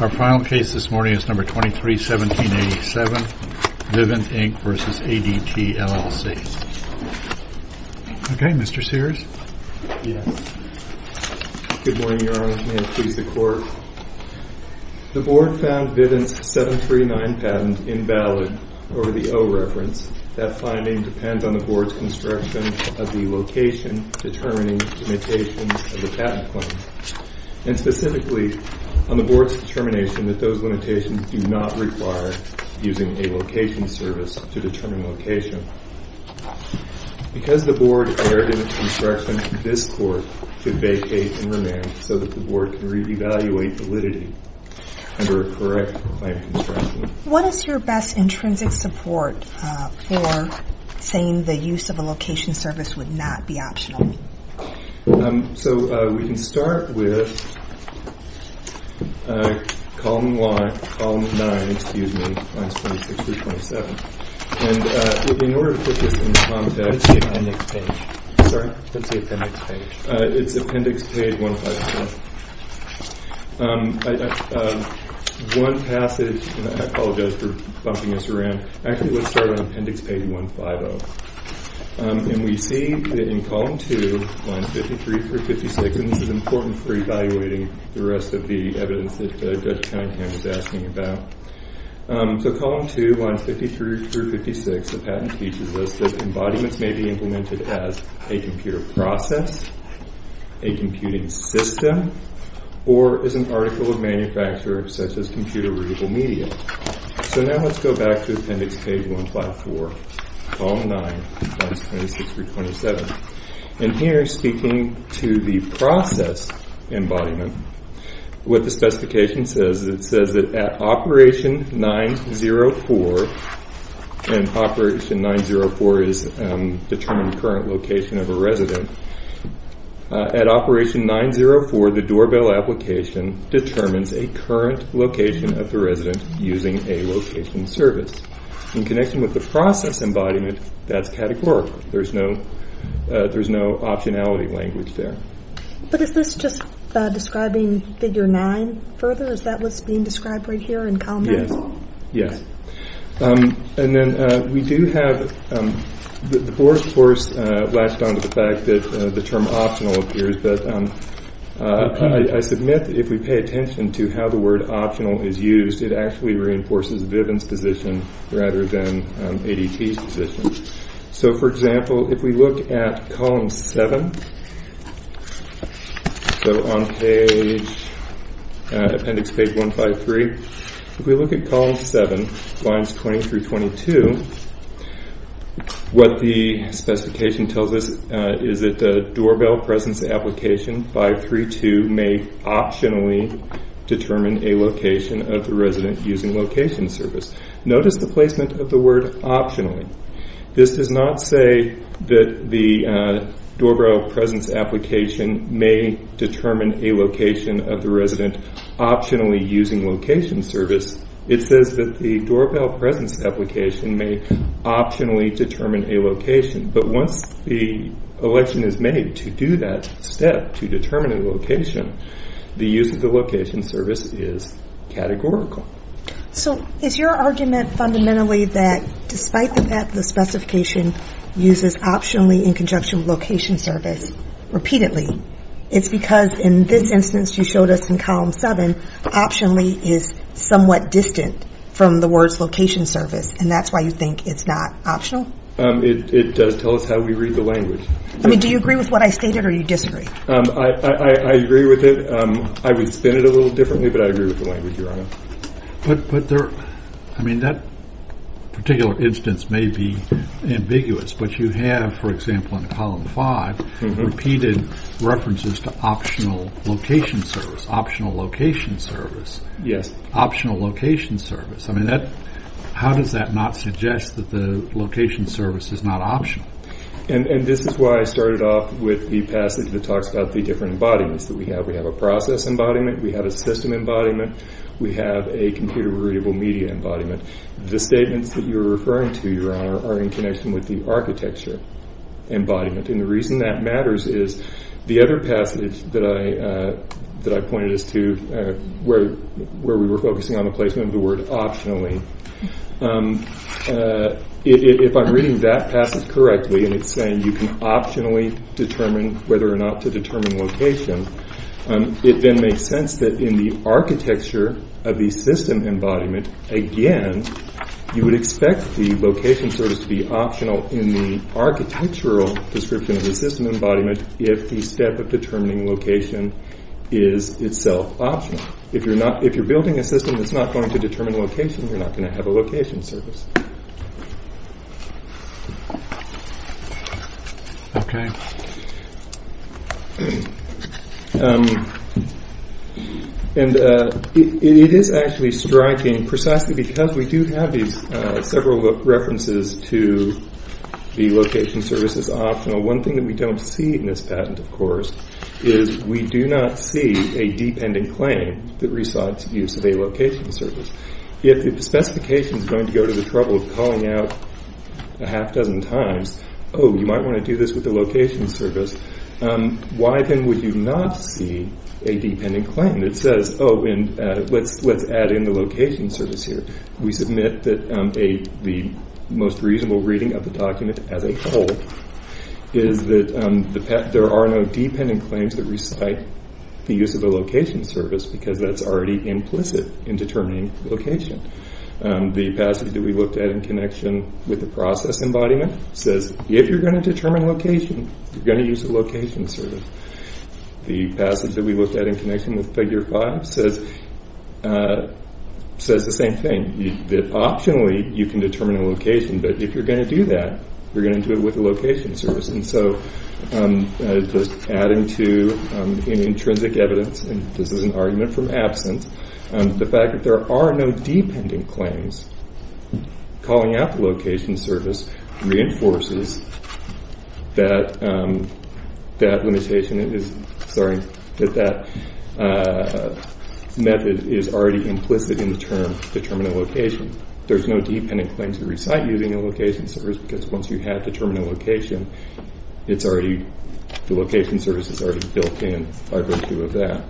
Our final case this morning is No. 23-1787, Vivint, Inc. v. ADT, LLC Okay, Mr. Sears? Yes. Good morning, Your Honor. May it please the Court? The Board found Vivint's 739 patent invalid over the O reference. That finding depends on the Board's construction of the location determining limitations of the patent claim. And specifically, on the Board's determination that those limitations do not require using a location service to determine location. Because the Board erred in its construction, this Court should vacate and remand so that the Board can re-evaluate validity under a correct claim construction. What is your best intrinsic support for saying the use of a location service would not be optional? So we can start with Column 9, lines 26 through 27. In order to put this in context, it's Appendix Page 150. One passage, and I apologize for bumping us around, actually let's start on Appendix Page 150. And we see in Column 2, lines 53 through 56, and this is important for evaluating the rest of the evidence that Judge Kinehan is asking about. So Column 2, lines 53 through 56, the patent teaches us that embodiments may be implemented as a computer process, a computing system, or as an article of manufacture such as computer readable media. So now let's go back to Appendix Page 154, Column 9, lines 26 through 27. And here, speaking to the process embodiment, what the specification says, it says that at Operation 904, and Operation 904 is determining the current location of a resident. At Operation 904, the doorbell application determines a current location of the resident using a location service. In connection with the process embodiment, that's categorical. There's no optionality language there. But is this just describing Figure 9 further? Is that what's being described right here in Column 9? Yes, yes. And then we do have, the board, of course, latched on to the fact that the term optional appears. But I submit that if we pay attention to how the word optional is used, it actually reinforces Viven's position rather than ADT's position. So for example, if we look at Column 7, so on page, Appendix Page 153, if we look at Column 7, lines 20 through 22, what the specification tells us is that the doorbell presence application 532 may optionally determine a location of the resident using location service. Notice the placement of the word optionally. This does not say that the doorbell presence application may determine a location of the resident optionally using location service. It says that the doorbell presence application may optionally determine a location. But once the election is made to do that step, to determine a location, the use of the location service is categorical. So is your argument fundamentally that despite the fact that the specification uses optionally in conjunction with location service repeatedly, it's because in this instance you showed us in Column 7, optionally is somewhat distant from the words location service. And that's why you think it's not optional? It does tell us how we read the language. I mean, do you agree with what I stated or do you disagree? I agree with it. I would spin it a little differently, but I agree with the language you're on. But there, I mean, that particular instance may be ambiguous, but you have, for example, in Column 5, repeated references to optional location service, optional location service. Yes. Optional location service. I mean, that, how does that not suggest that the location service is not optional? And this is why I started off with the passage that talks about the different embodiments that we have. We have a process embodiment. We have a system embodiment. We have a computer readable media embodiment. The statements that you're referring to, Your Honor, are in connection with the architecture embodiment. And the reason that matters is the other passage that I pointed is to where we were focusing on the placement of the word optionally. If I'm reading that passage correctly and it's saying you can optionally determine whether or not to determine location, it then makes sense that in the architecture of the system embodiment, again, you would expect the location service to be optional in the architectural description of the system embodiment if the step of determining location is itself optional. If you're not, if you're building a system that's not going to determine location, you're not going to have a location service. Okay. And it is actually striking precisely because we do have these several references to the location service as optional. One thing that we don't see in this patent, of course, is we do not see a deep-ending claim that recites use of a location service. If the specification is going to go to the trouble of calling out a half dozen times, oh, you might want to do this with the location service, why then would you not see a deep-ending claim that says, oh, and let's add in the location service here? We submit that the most reasonable reading of the document as a whole is that there are no deep-ending claims that recite the use of a location service because that's already implicit in determining location. The passage that we looked at in connection with the process embodiment says if you're going to determine location, you're going to use a location service. The passage that we looked at in connection with Figure 5 says the same thing, that optionally you can determine a location, but if you're going to do that, you're going to do it with a location service. Just adding to any intrinsic evidence, and this is an argument from absence, the fact that there are no deep-ending claims calling out the location service reinforces that that method is already implicit in the term determining location. There's no deep-ending claim to recite using a location service because once you have determined a location, the location service is already built in by virtue of that.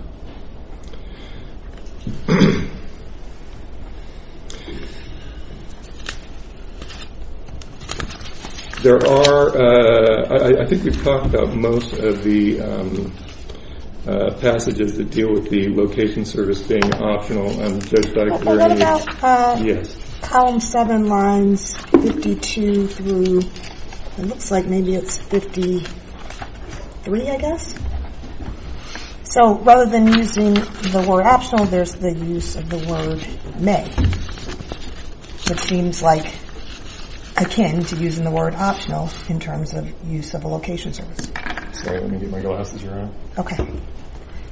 I think we've talked about most of the passages that deal with the location service being optional. What about column 7 lines 52 through, it looks like maybe it's 53, I guess? So rather than using the word optional, there's the use of the word may, which seems like akin to using the word optional in terms of use of a location service. Sorry, let me get my glasses around.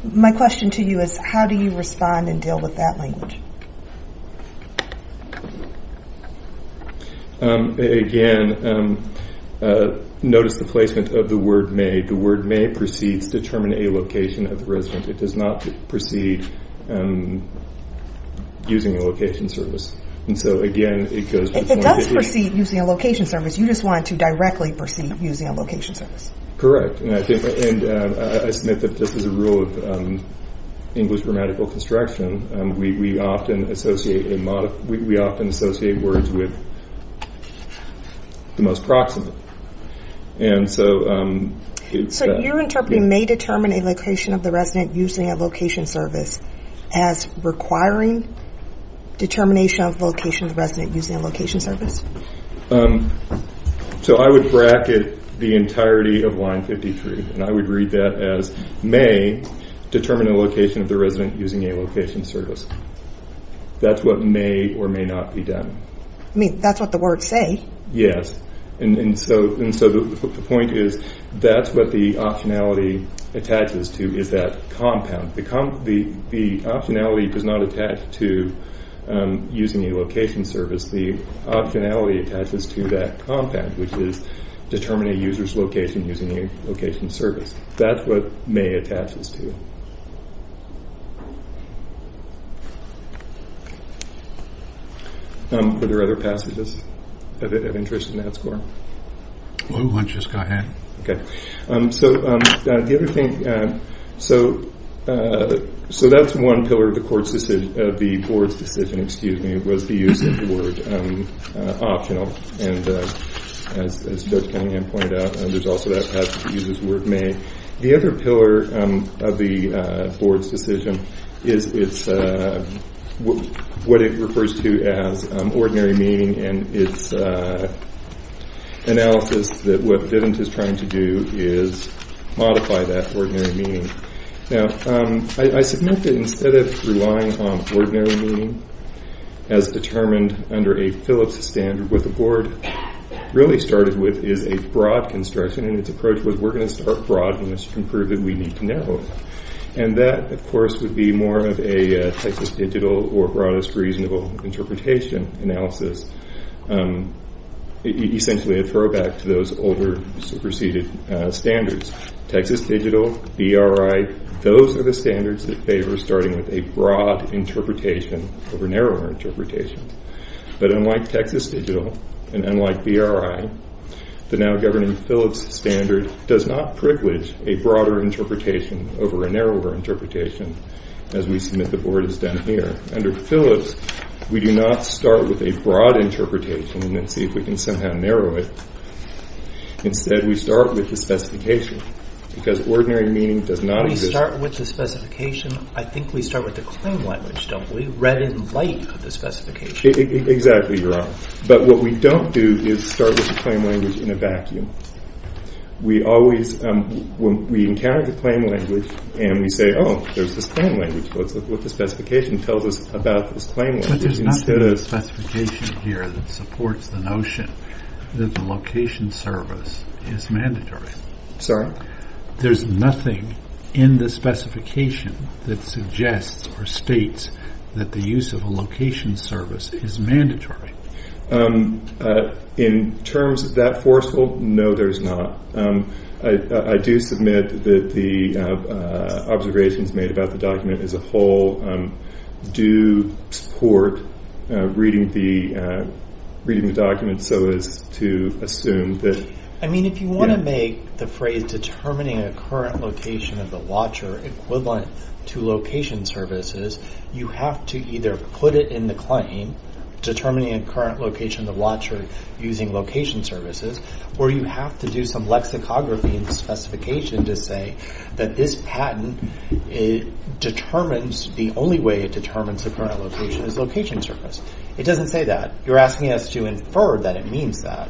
My question to you is how do you respond and deal with that language? Again, notice the placement of the word may. The word may precedes determining a location of the resident. It does not precede using a location service. It does precede using a location service, you just want it to directly precede using a location service. Correct, and I submit that this is a rule of English grammatical construction. We often associate words with the most proximate. So you're interpreting may determine a location of the resident using a location service as requiring determination of location of the resident using a location service? So I would bracket the entirety of line 53, and I would read that as may determine a location of the resident using a location service. That's what may or may not be done. I mean, that's what the words say. Yes, and so the point is that's what the optionality attaches to is that compound. The optionality does not attach to using a location service. The optionality attaches to that compound, which is determining a user's location using a location service. That's what may attaches to. Are there other passages of interest in that score? Why don't you just go ahead. So that's one pillar of the board's decision, was the use of the word optional. As Judge Cunningham pointed out, there's also that passage that uses the word may. The other pillar of the board's decision is what it refers to as ordinary meaning, and it's analysis that what Vivint is trying to do is modify that ordinary meaning. Now, I submit that instead of relying on ordinary meaning as determined under a Phillips standard, what the board really started with is a broad construction. Its approach was we're going to start broad, and this can prove that we need to narrow it. And that, of course, would be more of a Texas Digital or Broadest Reasonable Interpretation analysis, essentially a throwback to those older superseded standards. Texas Digital, BRI, those are the standards that favor starting with a broad interpretation over narrower interpretation. But unlike Texas Digital and unlike BRI, the now-governing Phillips standard does not privilege a broader interpretation over a narrower interpretation, as we submit the board has done here. Under Phillips, we do not start with a broad interpretation and see if we can somehow narrow it. Instead, we start with the specification, because ordinary meaning does not exist. I think we start with the claim language, don't we, read in light of the specification? Exactly, Your Honor. But what we don't do is start with the claim language in a vacuum. We always, when we encounter the claim language, and we say, oh, there's this claim language, what does the specification tell us about this claim language? But there's nothing in the specification here that supports the notion that the location service is mandatory. Sorry? There's nothing in the specification that suggests or states that the use of a location service is mandatory. In terms of that forceful, no, there's not. I do submit that the observations made about the document as a whole do support reading the document so as to assume that— I mean, if you want to make the phrase determining a current location of the watcher equivalent to location services, you have to either put it in the claim, determining a current location of the watcher using location services, or you have to do some lexicography in the specification to say that this patent determines, the only way it determines the current location is location service. It doesn't say that. You're asking us to infer that it means that.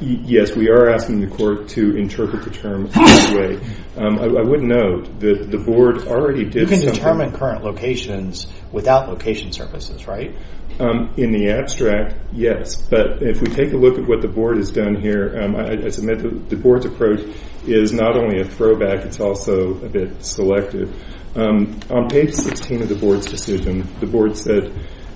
Yes, we are asking the court to interpret the term that way. I would note that the board already did— You can determine current locations without location services, right? In the abstract, yes, but if we take a look at what the board has done here, I submit that the board's approach is not only a throwback, it's also a bit selective. On page 16 of the board's decision, the board said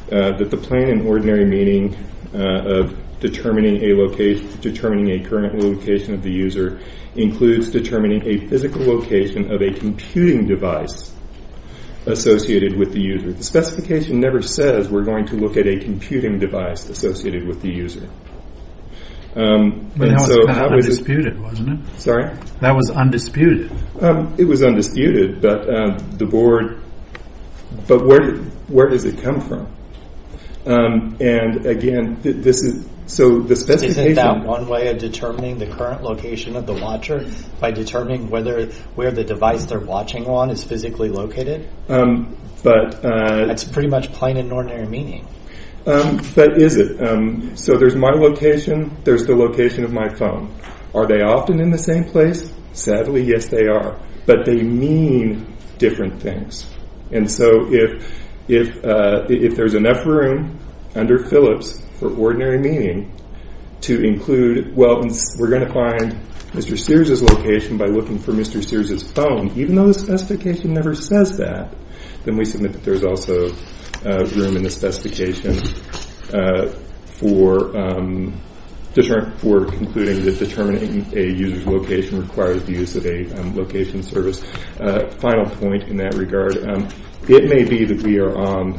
that the plain and ordinary meaning of determining a current location of the user includes determining a physical location of a computing device associated with the user. The specification never says we're going to look at a computing device associated with the user. That was undisputed, wasn't it? Sorry? That was undisputed. It was undisputed, but where does it come from? Isn't that one way of determining the current location of the watcher? By determining where the device they're watching on is physically located? That's pretty much plain and ordinary meaning. But is it? So there's my location, there's the location of my phone. Are they often in the same place? Sadly, yes, they are. But they mean different things. And so if there's enough room under Phillips for ordinary meaning to include, well, we're going to find Mr. Sears' location by looking for Mr. Sears' phone, even though the specification never says that, then we submit that there's also room in the specification for concluding that determining a user's location requires the use of a location service. Final point in that regard. It may be that we are on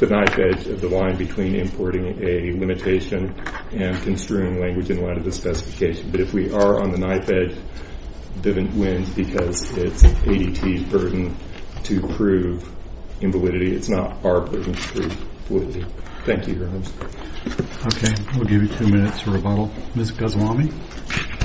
the knife edge of the line between importing a limitation and construing language in light of the specification. But if we are on the knife edge, Vivint wins because it's ADT's burden to prove invalidity. It's not our burden to prove validity. Thank you, Your Honors. Okay. We'll give you two minutes for rebuttal. Ms. Goswami?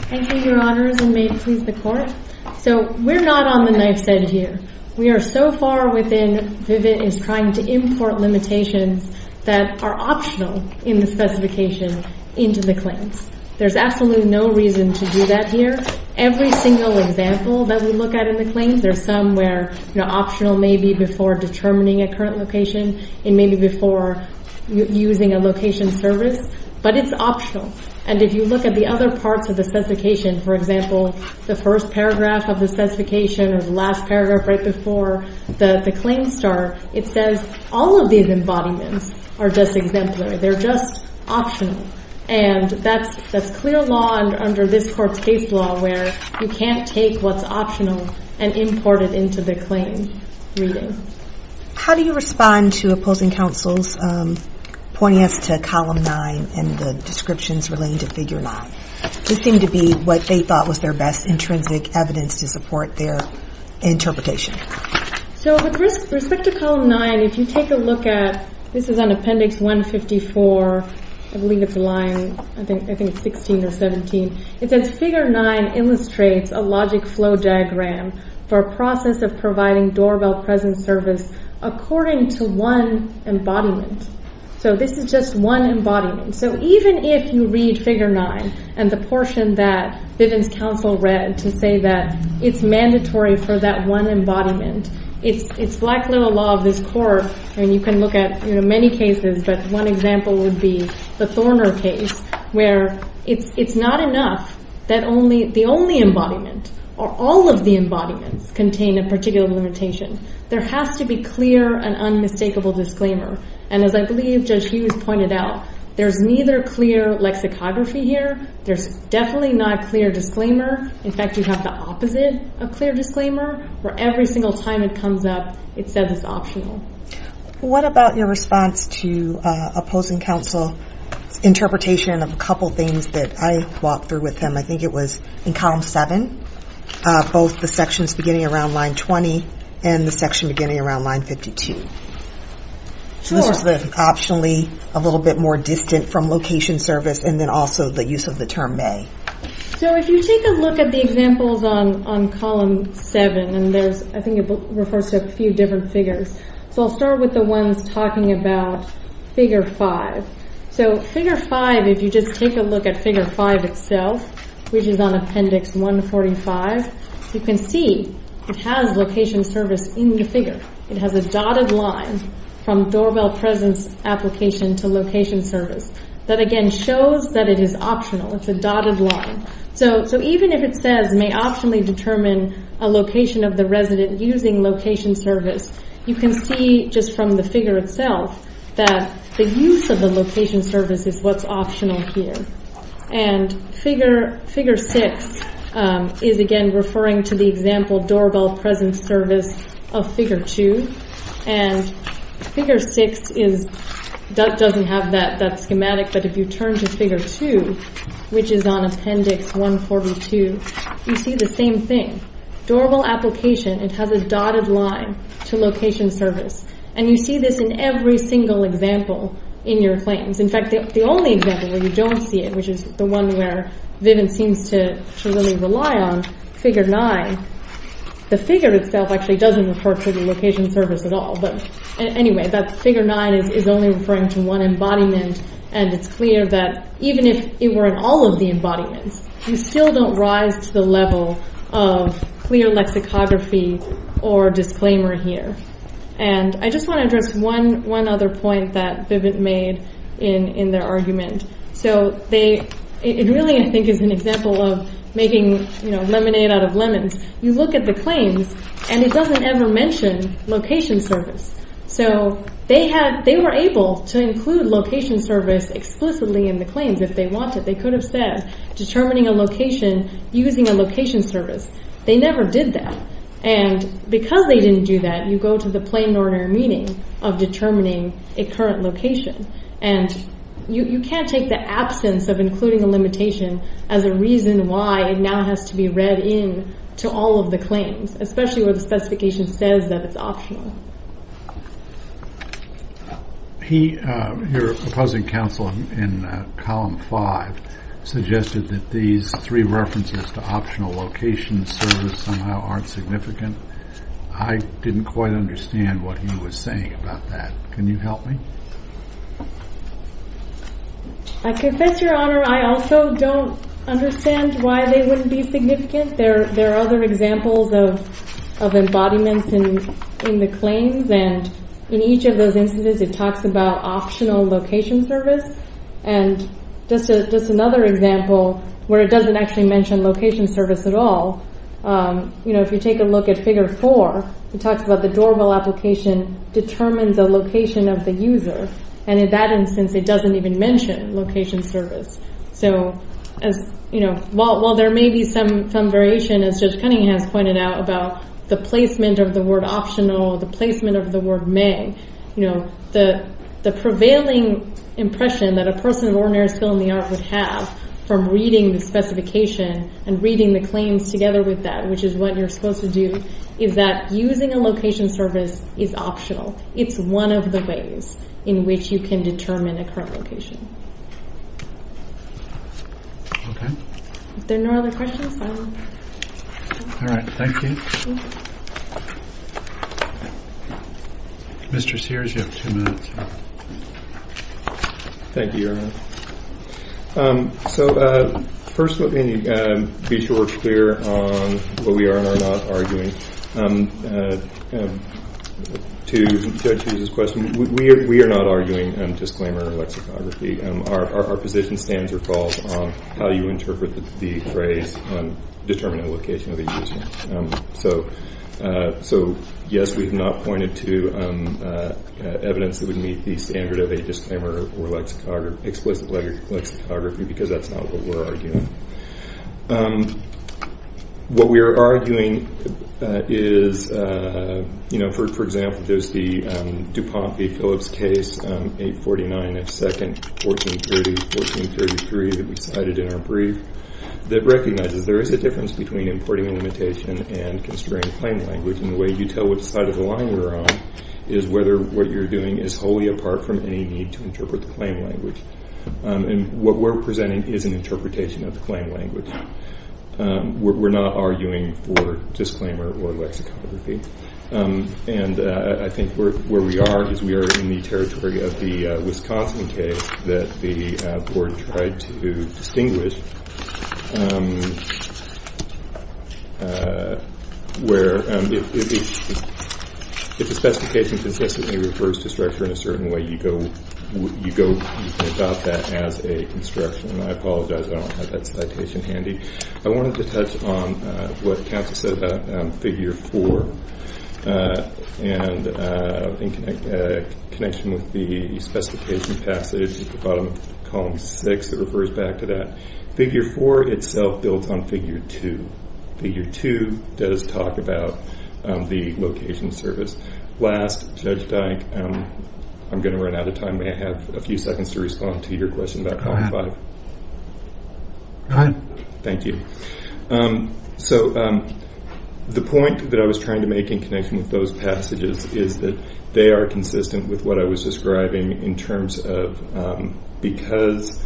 Thank you, Your Honors, and may it please the Court. So we're not on the knife's edge here. We are so far within Vivint is trying to import limitations that are optional in the specification into the claims. There's absolutely no reason to do that here. Every single example that we look at in the claims, there's some where optional may be before determining a current location and maybe before using a location service, but it's optional. And if you look at the other parts of the specification, for example, the first paragraph of the specification or the last paragraph right before the claims start, it says all of these embodiments are just exemplary. They're just optional. And that's clear law under this Court's case law where you can't take what's optional and import it into the claim reading. How do you respond to opposing counsels pointing us to Column 9 and the descriptions relating to Figure 9? This seemed to be what they thought was their best intrinsic evidence to support their interpretation. So with respect to Column 9, if you take a look at, this is on Appendix 154, I believe it's line, I think it's 16 or 17. It says, Figure 9 illustrates a logic flow diagram for a process of providing doorbell present service according to one embodiment. So this is just one embodiment. So even if you read Figure 9 and the portion that Bivens counsel read to say that it's mandatory for that one embodiment, it's Black Little Law of this Court and you can look at many cases, but one example would be the Thorner case where it's not enough that the only embodiment or all of the embodiments contain a particular limitation. There has to be clear and unmistakable disclaimer. And as I believe Judge Hughes pointed out, there's neither clear lexicography here. There's definitely not clear disclaimer. In fact, you have the opposite of clear disclaimer where every single time it comes up, it says it's optional. What about your response to opposing counsel's interpretation of a couple things that I walked through with them? I think it was in Column 7, both the sections beginning around Line 20 and the section beginning around Line 52. So this is optionally a little bit more distant from location service and then also the use of the term may. So if you take a look at the examples on Column 7, and I think it refers to a few different figures. So I'll start with the ones talking about Figure 5. So Figure 5, if you just take a look at Figure 5 itself, which is on Appendix 145, you can see it has location service in the figure. It has a dotted line from doorbell presence application to location service that again shows that it is optional. It's a dotted line. So even if it says may optionally determine a location of the resident using location service, you can see just from the figure itself that the use of the location service is what's optional here. And Figure 6 is again referring to the example doorbell presence service of Figure 2. And Figure 6 doesn't have that schematic, but if you turn to Figure 2, which is on Appendix 142, you see the same thing. Doorbell application, it has a dotted line to location service. And you see this in every single example in your claims. In fact, the only example where you don't see it, which is the one where Vivian seems to really rely on, Figure 9, the figure itself actually doesn't refer to the location service at all. But anyway, that's Figure 9 is only referring to one embodiment. And it's clear that even if it were in all of the embodiments, you still don't rise to the level of clear lexicography or disclaimer here. And I just want to address one other point that Vivian made in their argument. So it really, I think, is an example of making lemonade out of lemons. You look at the claims, and it doesn't ever mention location service. So they were able to include location service explicitly in the claims if they wanted. They could have said determining a location using a location service. They never did that. And because they didn't do that, you go to the plain ordinary meaning of determining a current location. And you can't take the absence of including a limitation as a reason why it now has to be read in to all of the claims, especially where the specification says that it's optional. He, your opposing counsel in Column 5, suggested that these three references to optional location service somehow aren't significant. I didn't quite understand what he was saying about that. Can you help me? I confess, Your Honor, I also don't understand why they wouldn't be significant. There are other examples of embodiments in the claims. And in each of those instances, it talks about optional location service. And just another example where it doesn't actually mention location service at all, you know, if you take a look at Figure 4, it talks about the doorbell application determines a location of the user. And in that instance, it doesn't even mention location service. So as, you know, while there may be some variation, as Judge Cunningham has pointed out, about the placement of the word optional, the placement of the word may, you know, the prevailing impression that a person of ordinary skill in the art would have from reading the specification and reading the claims together with that, which is what you're supposed to do, is that using a location service is optional. It's one of the ways in which you can determine a current location. Okay. If there are no other questions, I will. All right. Thank you. Mr. Sears, you have two minutes. Thank you, Your Honor. So first let me be sure we're clear on what we are and are not arguing. To Judge Sears' question, we are not arguing disclaimer or lexicography. Our position stands or falls on how you interpret the phrase, determine a location of a user. So, yes, we have not pointed to evidence that would meet the standard of a disclaimer or explicit lexicography because that's not what we're arguing. What we are arguing is, you know, for example, there's the DuPont v. Phillips case 849 of 2nd 1430-1433 that we cited in our brief that recognizes there is a difference between importing a limitation and constraining a claim language. And the way you tell which side of the line you're on is whether what you're doing is wholly apart from any need to interpret the claim language. And what we're presenting is an interpretation of the claim language. We're not arguing for disclaimer or lexicography. And I think where we are is we are in the territory of the Wisconsin case that the board tried to distinguish where if the specification consistently refers to structure in a certain way, you go about that as a construction. And I apologize, I don't have that citation handy. I wanted to touch on what Counsel said about Figure 4 and in connection with the specification passage at the bottom of Column 6 that refers back to that. Figure 4 itself builds on Figure 2. Figure 2 does talk about the location service. Last, Judge Dike, I'm going to run out of time. May I have a few seconds to respond to your question about Column 5? Go ahead. Thank you. So the point that I was trying to make in connection with those passages is that they are consistent with what I was describing in terms of because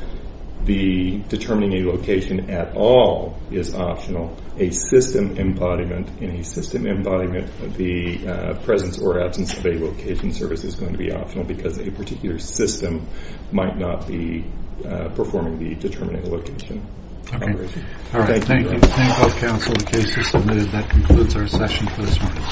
determining a location at all is optional, a system embodiment. In a system embodiment, the presence or absence of a location service is going to be optional because a particular system might not be performing the determining location. Thank you. Thank you, Counsel. The case is submitted. That concludes our session this morning.